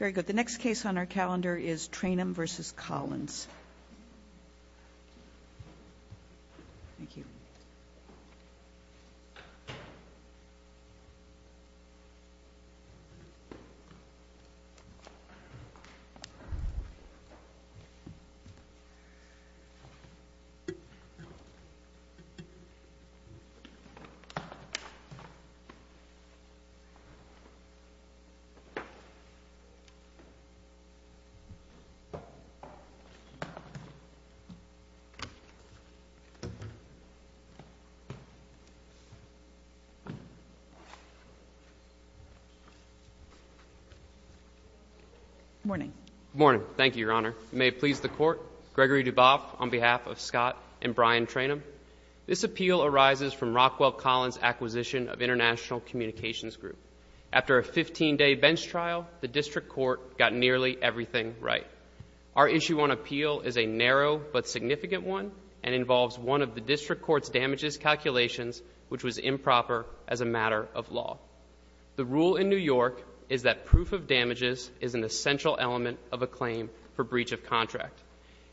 Very good. The next case on our calendar is Trainum v. Collins. Good morning. Good morning. Thank you, Your Honor. You may please the Court. Gregory Duboff, on behalf of Scott and Brian Trainum, this appeal arises from Rockwell Collins' acquisition of International Communications Group. After a 15-day bench trial, the District Court got nearly everything right. Our issue on appeal is a narrow but significant one and involves one of the District Court's damages calculations, which was improper as a matter of law. The rule in New York is that proof of damages is an essential element of a claim for breach of contract,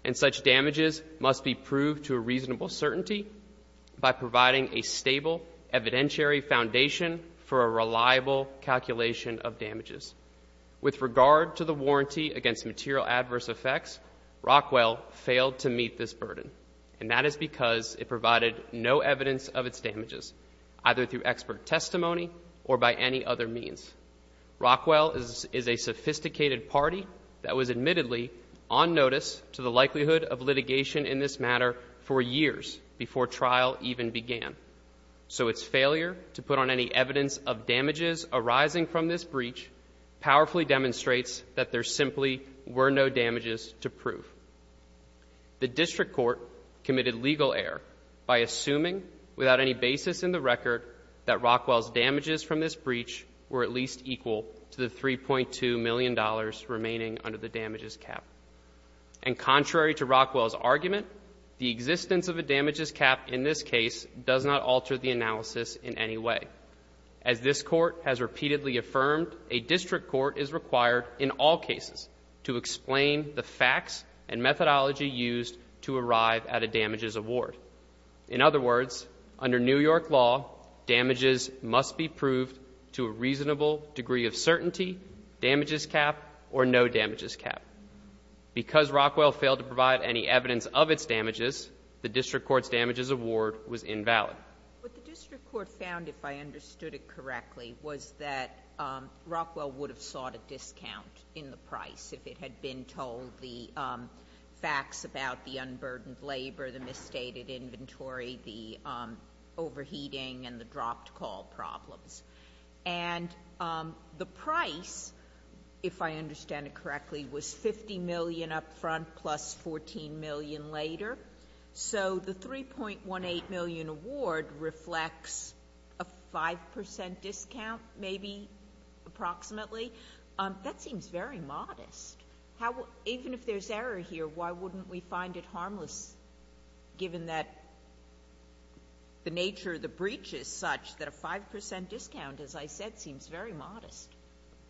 and such damages must be proved to a reasonable certainty by providing a stable evidentiary foundation for a reliable calculation of damages. With regard to the warranty against material adverse effects, Rockwell failed to meet this burden, and that is because it provided no evidence of its damages, either through expert testimony or by any other means. Rockwell is a sophisticated party that was admittedly on notice to the failure to put on any evidence of damages arising from this breach powerfully demonstrates that there simply were no damages to prove. The District Court committed legal error by assuming, without any basis in the record, that Rockwell's damages from this breach were at least equal to the $3.2 million remaining under the damages cap. And contrary to Rockwell's claim, the existence of a damages cap in this case does not alter the analysis in any way. As this Court has repeatedly affirmed, a District Court is required in all cases to explain the facts and methodology used to arrive at a damages award. In other words, under New York law, damages must be proved to a reasonable degree of certainty, damages cap, or no damages cap. Because Rockwell failed to provide any evidence of its damages, the District Court's damages award was invalid. What the District Court found, if I understood it correctly, was that Rockwell would have sought a discount in the price if it had been told the facts about the unburdened labor, the misstated inventory, the overheating, and the dropped call problems. And the price, if I understand it correctly, was $50 million up front, plus $14 million later. So the $3.18 million award reflects a 5 percent discount, maybe, approximately? That seems very modest. Even if there's error here, why wouldn't we find it harmless, given that the nature of the breach is such that a 5 percent discount, as I said, seems very modest?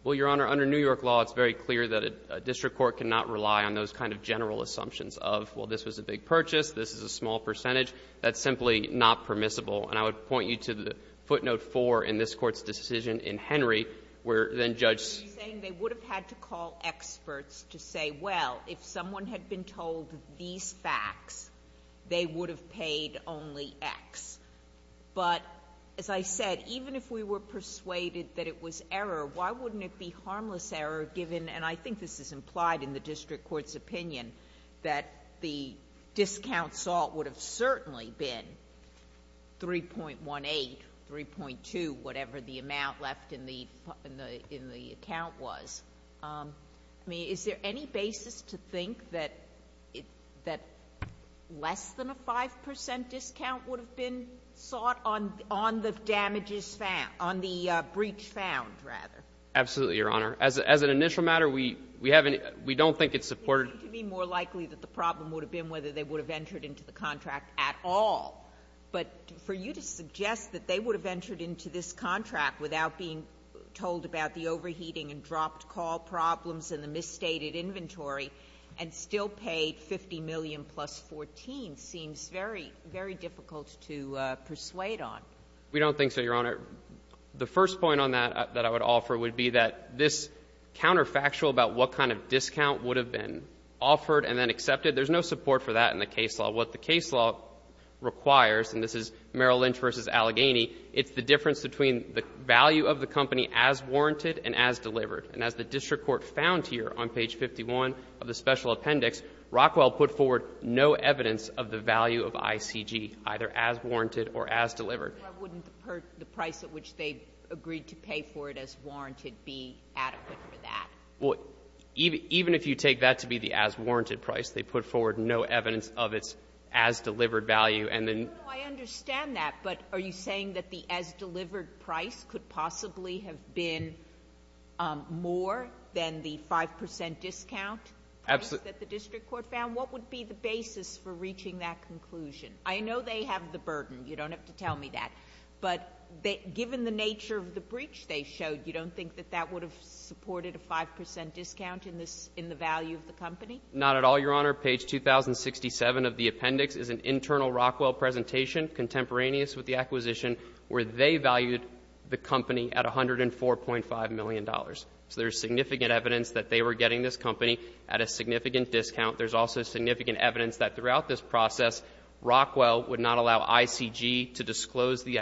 Well, Your Honor, under New York law, it's very clear that a district court cannot rely on those kind of general assumptions of, well, this was a big purchase, this is a small percentage. That's simply not permissible. And I would point you to footnote 4 in this Court's decision in Henry, where then Judge — You're saying they would have had to call experts to say, well, if someone had been told these facts, they would have paid only X. But, as I said, even if we were persuaded that it was error, why wouldn't it be harmless error, given — and I think this is implied in the district court's opinion — that the discount sought would have certainly been 3.18, 3.2, whatever the amount left in the account was. I mean, is there any basis to think that less than a 5 percent discount would have been sought on the damages found, on the breach found, rather? Absolutely, Your Honor. As an initial matter, we don't think it's supported — It would seem to me more likely that the problem would have been whether they would have entered into the contract at all. But for you to suggest that they would have entered into this contract without being told about the overheating and dropped call problems and the misstated inventory and still paid $50 million plus $14 seems very, very difficult to persuade on. We don't think so, Your Honor. The first point on that that I would offer would be that this counterfactual about what kind of discount would have been offered and then accepted, there's no support for that in the case law. What the case law requires — and this is Merrill Lynch v. Allegheny — it's the difference between the value of the company as warranted and as delivered. And as the district court found here on page 51 of the special appendix, Rockwell put forward no evidence of the value of ICG, either as warranted or as delivered. But wouldn't the price at which they agreed to pay for it as warranted be adequate for that? Well, even if you take that to be the as warranted price, they put forward no evidence of its as delivered value. And then — No, no. I understand that. But are you saying that the as delivered price could possibly have been more than the 5 percent discount — Absolutely. — that the district court found? What would be the basis for reaching that conclusion? I know they have the burden. You don't have to tell me that. But given the nature of the breach they showed, you don't think that that would have supported a 5 percent discount in the value of the company? Not at all, Your Honor. Page 2067 of the appendix is an internal Rockwell presentation contemporaneous with the acquisition where they valued the company at $104.5 million. So there's significant evidence that they were getting this company at a significant discount. There's also significant evidence that throughout this process, Rockwell would not allow ICG to disclose their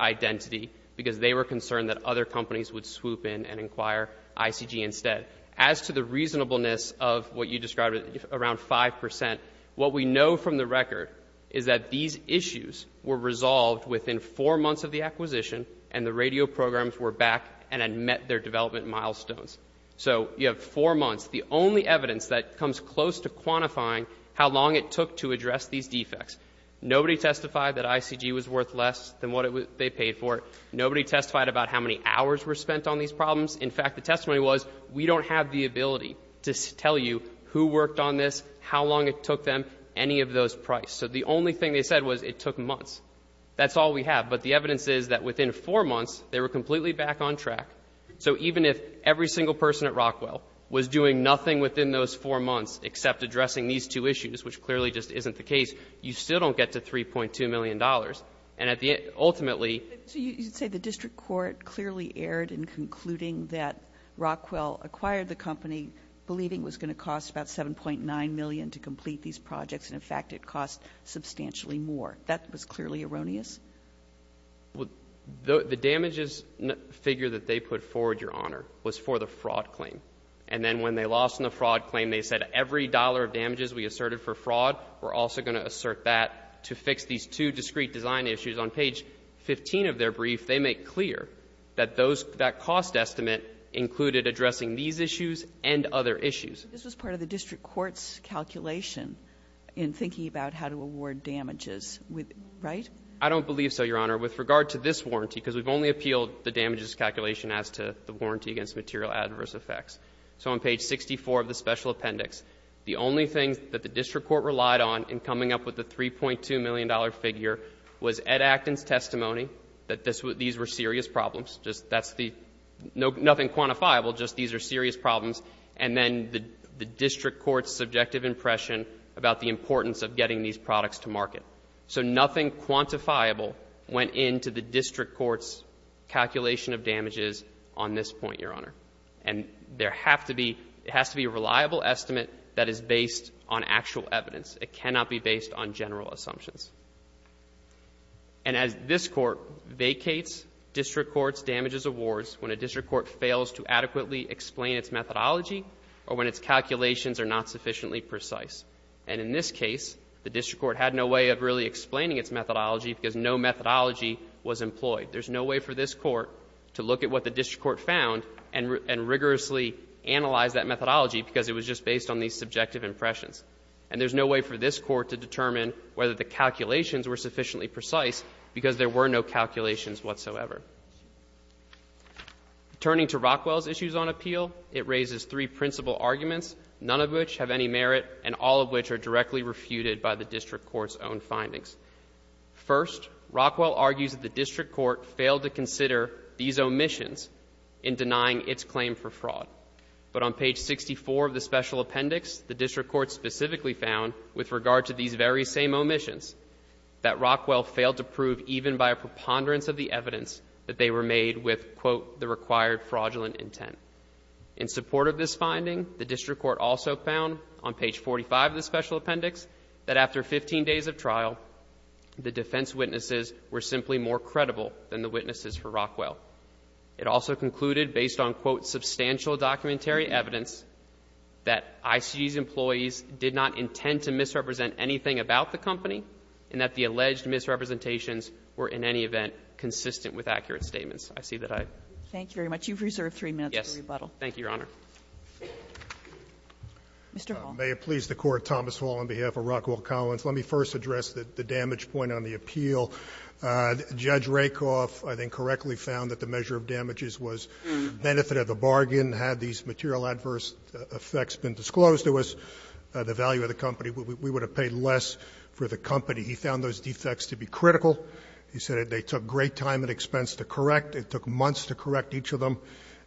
identity because they were concerned that other companies would swoop in and inquire ICG instead. As to the reasonableness of what you described, around 5 percent, what we know from the record is that these issues were resolved within four months of the acquisition, and the radio programs were back and had met their development milestones. So you have four months. The only evidence that comes close to quantifying how long it took to address these defects. Nobody testified that ICG was worth less than what they paid for it. Nobody testified about how many hours were spent on these problems. In fact, the testimony was, we don't have the ability to tell you who worked on this, how long it took them, any of those price. So the only thing they said was it took months. That's all we have. But the evidence is that within four months, they were completely back on track. So even if every single person at least within those four months except addressing these two issues, which clearly just isn't the case, you still don't get to $3.2 million. And at the end, ultimately ---- So you'd say the district court clearly erred in concluding that Rockwell acquired the company believing it was going to cost about $7.9 million to complete these projects, and in fact, it cost substantially more. That was clearly erroneous? The damages figure that they put forward, Your Honor, was for the fraud claim. And then when they lost on the fraud claim, they said every dollar of damages we asserted for fraud, we're also going to assert that to fix these two discrete design issues. On page 15 of their brief, they make clear that those ---- that cost estimate included addressing these issues and other issues. This was part of the district court's calculation in thinking about how to award damages, right? I don't believe so, Your Honor. With regard to this warranty, because we've only appealed the damages calculation as to the warranty against material adverse effects. So on page 64 of the special appendix, the only thing that the district court relied on in coming up with the $3.2 million figure was Ed Acton's testimony that this was ---- these were serious problems, just that's the ---- nothing quantifiable, just these are serious problems, and then the district court's subjective impression about the importance of getting these products to market. So nothing quantifiable went into the district court's calculation of damages on this point, Your Honor. And there have to be ---- it has to be a reliable estimate that is based on actual evidence. It cannot be based on general assumptions. And as this Court vacates district court's damages awards when a district court fails to adequately explain its methodology or when its calculations are not sufficiently precise. And in this case, the district court had no way of really explaining its methodology because no methodology was employed. There's no way for this court to look at what the district court found and rigorously analyze that methodology because it was just based on these subjective impressions. And there's no way for this court to determine whether the calculations were sufficiently precise because there were no calculations whatsoever. Turning to Rockwell's issues on appeal, it raises three principal arguments, none of which have any merit and all of which are directly refuted by the district court's own findings. First, Rockwell argues that the district court failed to consider these omissions in denying its claim for fraud. But on page 64 of the special appendix, the district court specifically found with regard to these very same omissions that Rockwell failed to prove even by a preponderance of the evidence that they were made with, quote, the required fraudulent intent. In support of this finding, the district court also found on page 45 of the special appendix that after 15 days of trial, the defense witnesses were simply more credible than the witnesses for Rockwell. It also concluded based on, quote, substantial documentary evidence that ICG's employees did not intend to misrepresent anything about the company and that the alleged misrepresentations were in any event consistent with accurate statements. I see that I've ---- Thank you very much. You've reserved three minutes for rebuttal. Yes. Thank you, Your Honor. Mr. Hall. May it please the Court, Thomas Hall, on behalf of Rockwell Collins, let me first address the damage point on the appeal. Judge Rakoff, I think, correctly found that the measure of damages was a benefit of the bargain. Had these material adverse effects been disclosed to us, the value of the company, we would have paid less for the company. He found those defects to be critical. He said they took great time and expense to correct. It took months to correct each of them,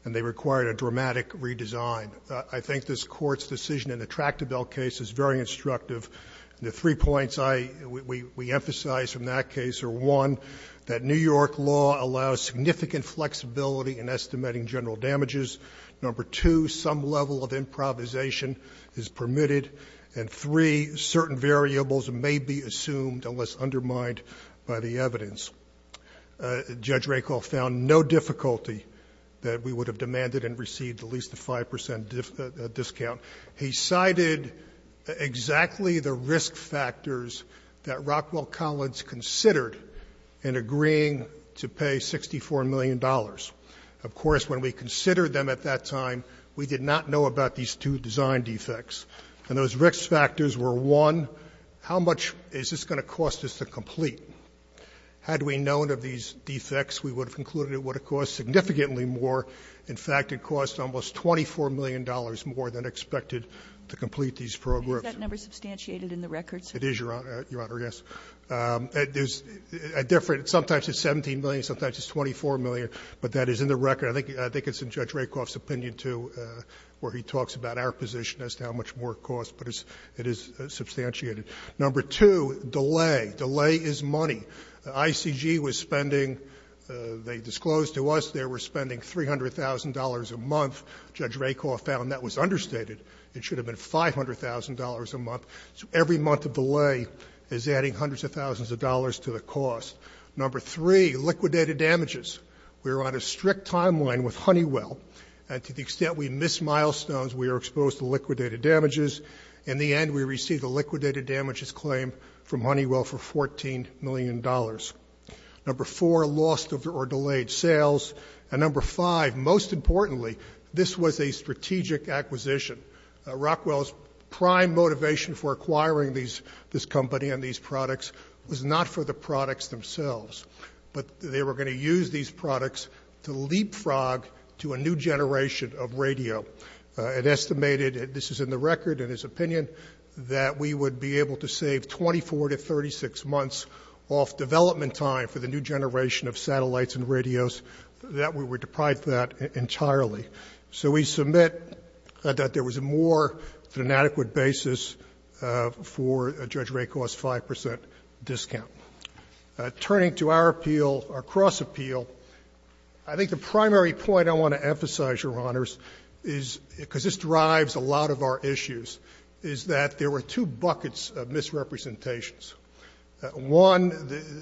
and they required a dramatic redesign. I think this Court's decision in the Tractabelle case is very instructive. The three points I ---- we emphasize from that case are, one, that New York law allows significant flexibility in estimating general damages. Number two, some level of improvisation is permitted. And three, certain variables may be assumed unless undermined by the evidence. Judge Rakoff found no difficulty that we would have demanded and received at least a 5 percent discount. He cited exactly the risk factors that Rockwell Collins considered in agreeing to pay $64 million. Of course, when we considered them at that time, we did not know about these two design defects. And those risk factors were, one, how much is this going to cost us to complete? Had we known of these defects, we would have concluded it would have cost significantly more. In fact, it cost almost $24 million more than expected to complete these programs. Kagan Is that number substantiated in the records? It is, Your Honor. Your Honor, yes. There's a different ---- sometimes it's 17 million, sometimes it's 24 million. But that is in the record. I think it's in Judge Rakoff's opinion, too, where he talks about our position as to how much more it costs. But it is substantiated. Number two, delay. ICG was spending ---- they disclosed to us they were spending $340 million. It should have been $500,000 a month. Judge Rakoff found that was understated. It should have been $500,000 a month. So every month of delay is adding hundreds of thousands of dollars to the cost. Number three, liquidated damages. We were on a strict timeline with Honeywell. And to the extent we missed milestones, we were exposed to liquidated damages. In the end, we received a liquidated damages claim from Honeywell for $14 million. Number four, lost or delayed sales. And number five, most importantly, this was a strategic acquisition. Rockwell's prime motivation for acquiring this company and these products was not for the products themselves, but they were going to use these products to leapfrog to a new generation of radio. It estimated, this is in the record in his opinion, that we would be able to save 24 to 36 months off development time for the new generation of satellites and radios. That we were deprived of that entirely. So we submit that there was more than an adequate basis for Judge Rakoff's 5% discount. Turning to our appeal, our cross appeal, I think the primary point I want to emphasize, Your Honors, is because this drives a lot of our issues, is that there were two buckets of misrepresentations. One,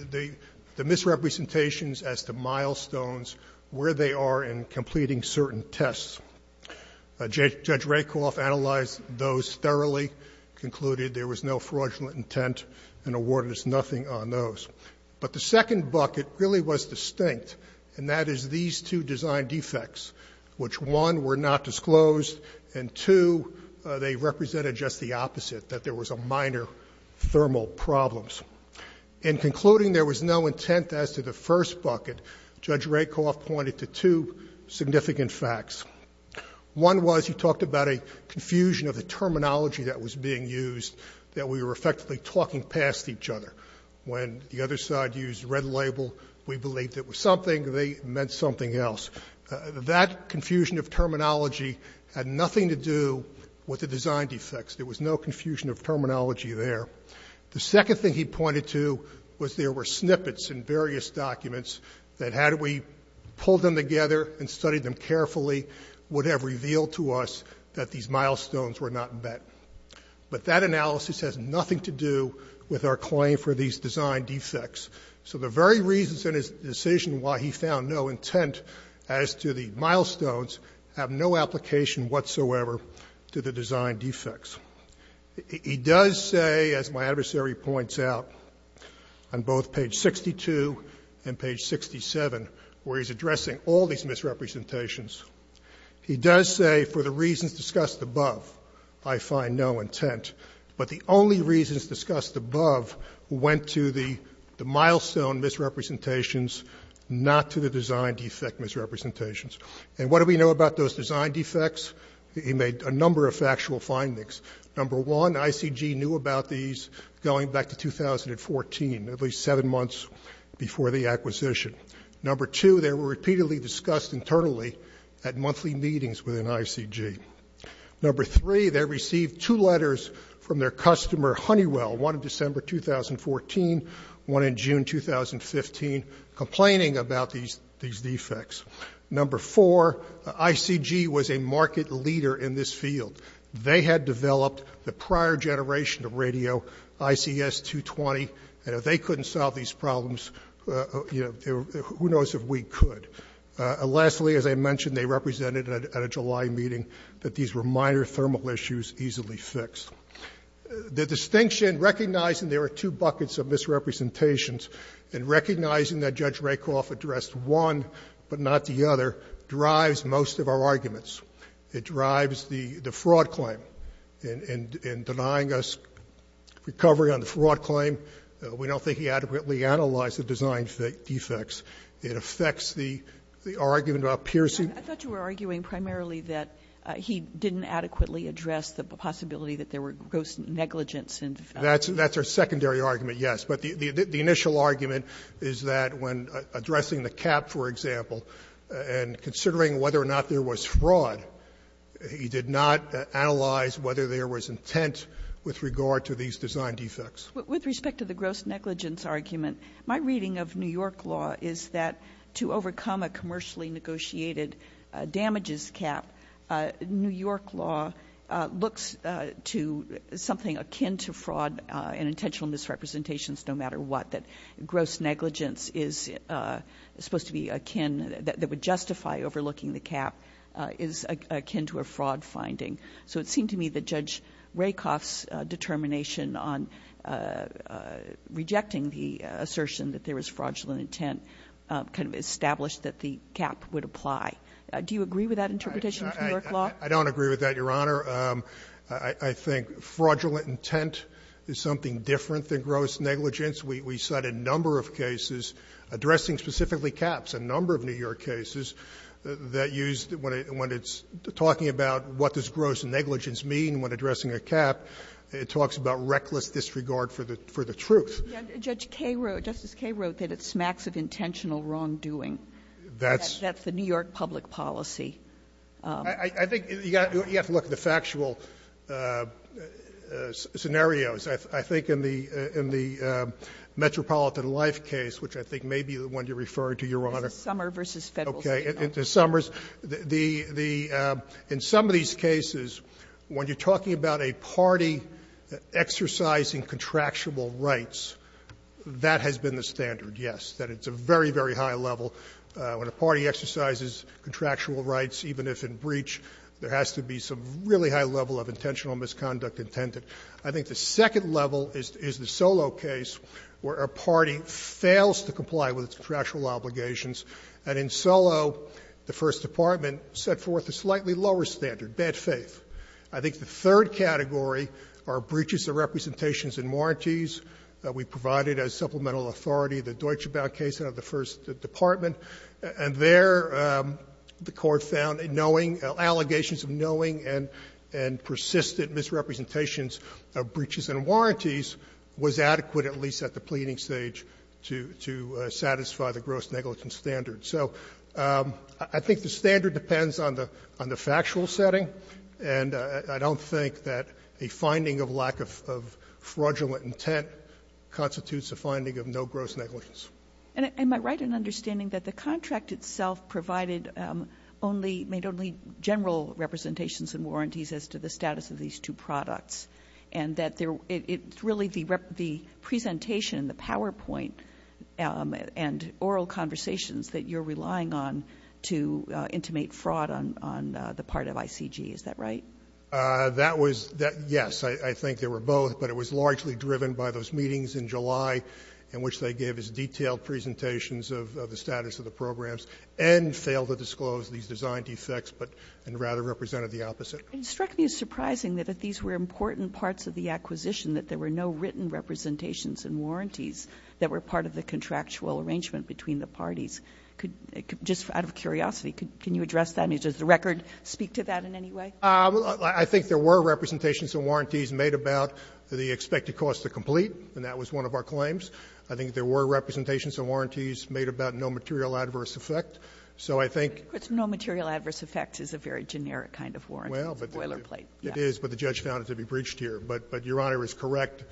the misrepresentations as to milestones, where they are in completing certain tests. Judge Rakoff analyzed those thoroughly, concluded there was no fraudulent intent, and awarded us nothing on those. But the second bucket really was distinct, and that is these two design defects, which one, were not disclosed, and two, they represented just the opposite, that there was a minor thermal problem. In concluding there was no intent as to the first bucket, Judge Rakoff pointed to two significant facts. One was, he talked about a confusion of the terminology that was being used, that we were effectively talking past each other. When the other side used red label, we believed it was something, they meant something else. That confusion of terminology had nothing to do with the design defects. There was no confusion of terminology there. The second thing he pointed to was there were snippets in various documents, that had we pulled them together and studied them carefully, would have revealed to us that these milestones were not met. But that analysis has nothing to do with our claim for these design defects. So the very reasons in his decision why he found no intent as to the milestones, have no application whatsoever to the design defects. He does say, as my adversary points out, on both page 62 and page 67, where he's addressing all these misrepresentations, he does say for the reasons discussed above, I find no intent. But the only reasons discussed above went to the milestone misrepresentations, not to the design defect misrepresentations. And what do we know about those design defects? He made a number of factual findings. Number one, ICG knew about these going back to 2014, at least seven months before the acquisition. Number two, they were repeatedly discussed internally at monthly meetings within ICG. Number three, they received two letters from their customer Honeywell, one in December 2014, one in June 2015, complaining about these defects. Number four, ICG was a market leader in this field. They had developed the prior generation of radio, ICS 220, and if they couldn't solve these problems, who knows if we could. Lastly, as I mentioned, they represented at a July meeting that these were minor thermal issues easily fixed. The distinction, recognizing there are two buckets of misrepresentations, and not the other, drives most of our arguments. It drives the fraud claim in denying us recovery on the fraud claim. We don't think he adequately analyzed the design defects. It affects the argument about piercing- I thought you were arguing primarily that he didn't adequately address the possibility that there were gross negligence in- That's our secondary argument, yes. But the initial argument is that when addressing the cap, for example, and considering whether or not there was fraud, he did not analyze whether there was intent with regard to these design defects. With respect to the gross negligence argument, my reading of New York law is that to overcome a commercially negotiated damages cap, New York law looks to something akin to fraud and intentional misrepresentations no matter what, that gross negligence is supposed to be akin, that would justify overlooking the cap, is akin to a fraud finding. So it seemed to me that Judge Rakoff's determination on rejecting the assertion that there was fraudulent intent kind of established that the cap would apply. Do you agree with that interpretation of New York law? I don't agree with that, Your Honor. I think fraudulent intent is something different than gross negligence. We cite a number of cases addressing specifically caps, a number of New York cases that used, when it's talking about what does gross negligence mean when addressing a cap, it talks about reckless disregard for the truth. Justice Kagan wrote that it smacks of intentional wrongdoing. That's the New York public policy. I think you have to look at the factual scenarios. I think in the Metropolitan Life case, which I think may be the one you're referring to, Your Honor. It's a summer versus Federal State. Okay. In the summers. In some of these cases, when you're talking about a party exercising contractual rights, that has been the standard, yes, that it's a very, very high level. When a party exercises contractual rights, even if in breach, there has to be some really high level of intentional misconduct intended. I think the second level is the Solow case, where a party fails to comply with its contractual obligations. And in Solow, the First Department set forth a slightly lower standard, bad faith. I think the third category are breaches of representations and warranties that we provided as supplemental authority. The Deutsche Bank case out of the First Department, and there the Court found knowing, allegations of knowing, and persistent misrepresentations of breaches and warranties was adequate, at least at the pleading stage, to satisfy the gross negligence standard. So I think the standard depends on the factual setting, and I don't think that a finding of lack of fraudulent intent constitutes a finding of no gross negligence. And am I right in understanding that the contract itself provided only, made only general representations and warranties as to the status of these two products, and that it's really the presentation, the PowerPoint, and oral conversations that you're relying on to intimate fraud on the part of ICG, is that right? That was the — yes, I think they were both, but it was largely driven by those meetings in July in which they gave us detailed presentations of the status of the programs, and failed to disclose these design defects, but — and rather represented the opposite. It struck me as surprising that if these were important parts of the acquisition, that there were no written representations and warranties that were part of the contractual arrangement between the parties. Just out of curiosity, can you address that? I mean, does the record speak to that in any way? I think there were representations and warranties made about the expected cost to complete, and that was one of our claims. I think there were representations and warranties made about no material adverse effect. So I think — But no material adverse effect is a very generic kind of warrant. Well, but the — It's a boilerplate. It is, but the judge found it to be breached here. But Your Honor is correct.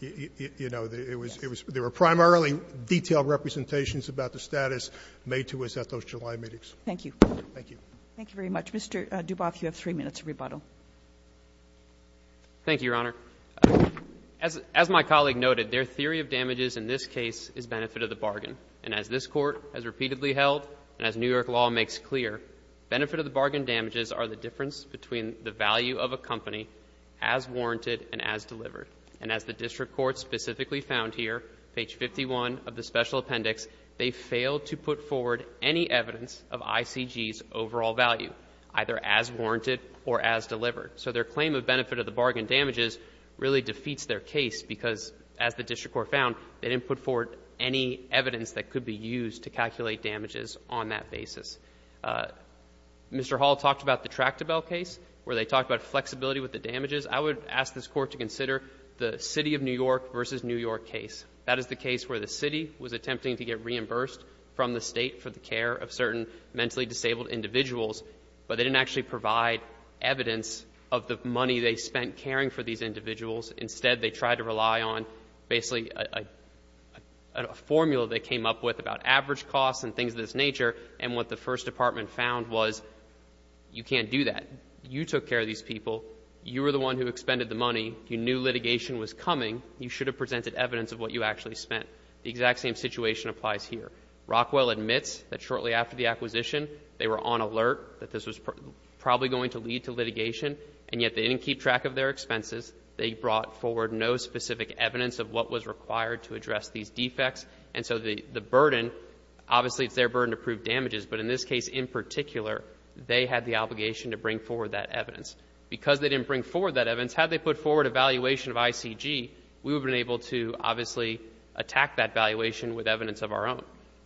You know, it was — there were primarily detailed representations about the status made to us at those July meetings. Thank you. Thank you. Thank you very much. Mr. Duboff, you have three minutes to rebuttal. Thank you, Your Honor. As my colleague noted, their theory of damages in this case is benefit of the bargain. And as this Court has repeatedly held, and as New York law makes clear, benefit of the bargain damages are the difference between the value of a company as warranted and as delivered. And as the district court specifically found here, page 51 of the special appendix, they failed to put forward any evidence of ICG's overall value. Either as warranted or as delivered. So their claim of benefit of the bargain damages really defeats their case because as the district court found, they didn't put forward any evidence that could be used to calculate damages on that basis. Mr. Hall talked about the Tractabelle case where they talked about flexibility with the damages. I would ask this Court to consider the city of New York versus New York case. That is the case where the city was attempting to get reimbursed from the state for the care of certain mentally disabled individuals, but they didn't actually provide evidence of the money they spent caring for these individuals. Instead, they tried to rely on basically a formula they came up with about average costs and things of this nature, and what the first department found was you can't do that. You took care of these people, you were the one who expended the money, you knew litigation was coming, you should have presented evidence of what you actually spent. The exact same situation applies here. Rockwell admits that shortly after the acquisition, they were on alert that this was probably going to lead to litigation, and yet they didn't keep track of their expenses. They brought forward no specific evidence of what was required to address these defects, and so the burden, obviously it's their burden to prove damages, but in this case in particular, they had the obligation to bring forward that evidence. Because they didn't bring forward that evidence, had they put forward a valuation of ICG, we would have been able to obviously attack that valuation with evidence of our own.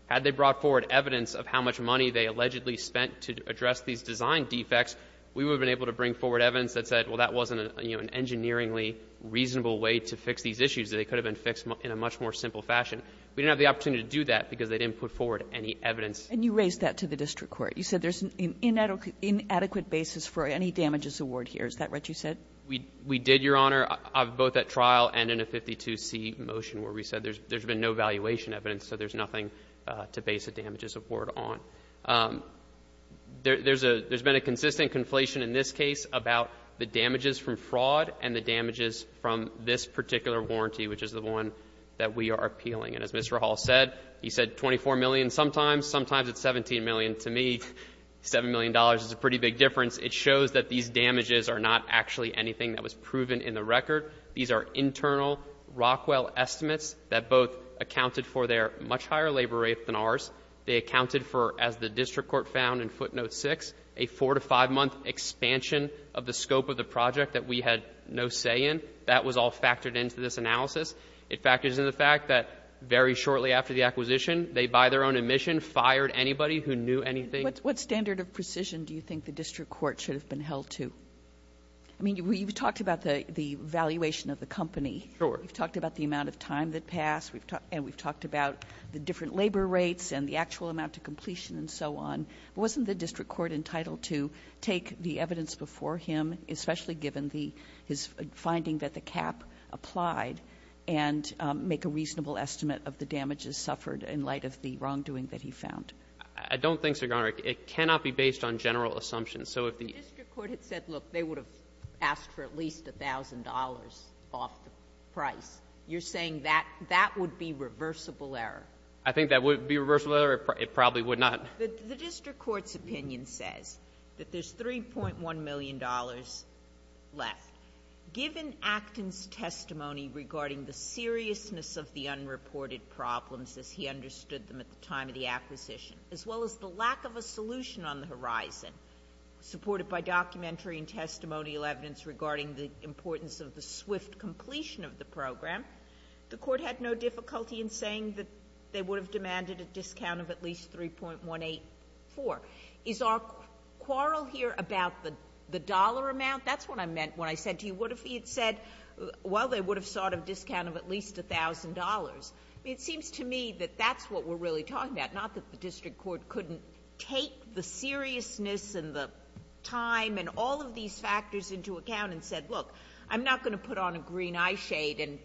Had they brought forward evidence of how much money they allegedly spent to address these design defects, we would have been able to bring forward evidence that said, well, that wasn't an engineeringly reasonable way to fix these issues. They could have been fixed in a much more simple fashion. We didn't have the opportunity to do that because they didn't put forward any evidence. And you raised that to the district court. You said there's an inadequate basis for any damages award here. Is that what you said? We did, Your Honor, both at trial and in a 52C motion where we said there's been no valuation evidence, so there's nothing to base a damages award on. There's been a consistent conflation in this case about the damages from fraud and the damages from this particular warranty, which is the one that we are appealing. And as Mr. Hall said, he said 24 million sometimes, sometimes it's 17 million. To me, $7 million is a pretty big difference. It shows that these damages are not actually anything that was proven in the record. These are internal Rockwell estimates that both accounted for their much higher labor rate than ours. They accounted for, as the district court found in footnote 6, a four- to five-month expansion of the scope of the project that we had no say in. That was all factored into this analysis. It factors in the fact that very shortly after the acquisition, they, by their own admission, fired anybody who knew anything. What standard of precision do you think the district court should have been held to? I mean, you've talked about the valuation of the company. Sure. You've talked about the amount of time that passed. And we've talked about the different labor rates and the actual amount of completion and so on. Wasn't the district court entitled to take the evidence before him, especially given the his finding that the cap applied, and make a reasonable estimate of the damages suffered in light of the wrongdoing that he found? I don't think so, Your Honor. It cannot be based on general assumptions. The district court had said, look, they would have asked for at least $1,000 off the price. You're saying that that would be reversible error? I think that would be reversible error. It probably would not. The district court's opinion says that there's $3.1 million left. Given Acton's testimony regarding the seriousness of the unreported problems, as he understood them at the time of the acquisition, as well as the lack of a horizon, supported by documentary and testimonial evidence regarding the importance of the swift completion of the program, the court had no difficulty in saying that they would have demanded a discount of at least $3.184. Is our quarrel here about the dollar amount? That's what I meant when I said to you, what if he had said, well, they would have sought a discount of at least $1,000? It seems to me that that's what we're really talking about. It's not that the district court couldn't take the seriousness and the time and all of these factors into account and said, look, I'm not going to put on a green eyeshade and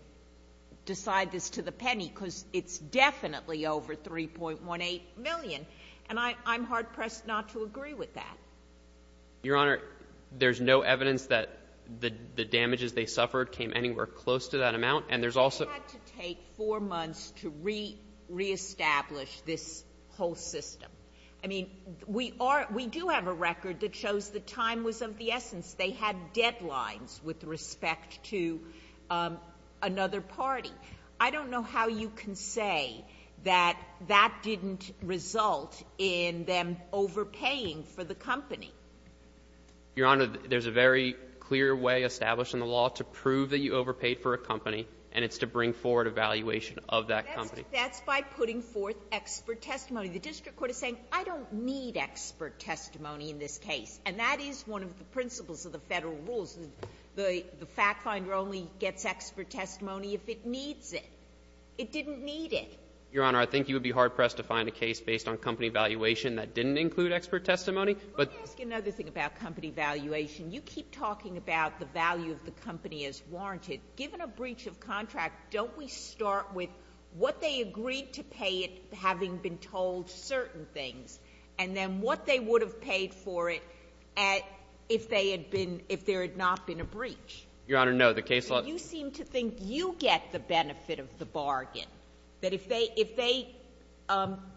decide this to the penny, because it's definitely over $3.18 million. And I'm hard-pressed not to agree with that. Your Honor, there's no evidence that the damages they suffered came anywhere close to that amount. And there's also — But it had to take four months to reestablish this whole system. I mean, we are — we do have a record that shows the time was of the essence. They had deadlines with respect to another party. I don't know how you can say that that didn't result in them overpaying for the company. Your Honor, there's a very clear way established in the law to prove that you overpaid for a company, and it's to bring forward a valuation of that company. That's by putting forth expert testimony. The district court is saying, I don't need expert testimony in this case. And that is one of the principles of the Federal rules. The fact finder only gets expert testimony if it needs it. It didn't need it. Your Honor, I think you would be hard-pressed to find a case based on company valuation that didn't include expert testimony. Let me ask you another thing about company valuation. You keep talking about the value of the company as warranted. Given a breach of contract, don't we start with what they agreed to pay it, having been told certain things, and then what they would have paid for it if they had been — if there had not been a breach? Your Honor, no. The case law — But you seem to think you get the benefit of the bargain. That if they — if they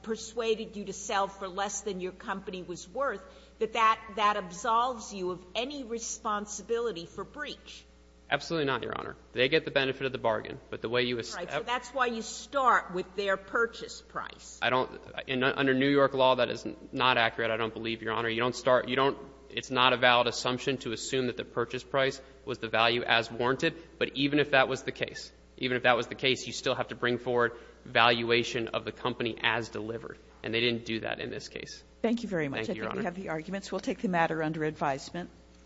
persuaded you to sell for less than your company was worth, that that — that absolves you of any responsibility for breach. Absolutely not, Your Honor. They get the benefit of the bargain. But the way you — All right. So that's why you start with their purchase price. I don't — under New York law, that is not accurate, I don't believe, Your Honor. You don't start — you don't — it's not a valid assumption to assume that the purchase price was the value as warranted. But even if that was the case, even if that was the case, you still have to bring forward valuation of the company as delivered. And they didn't do that in this case. Thank you very much. Thank you, Your Honor. I think we have the arguments. We'll take the matter under advisement.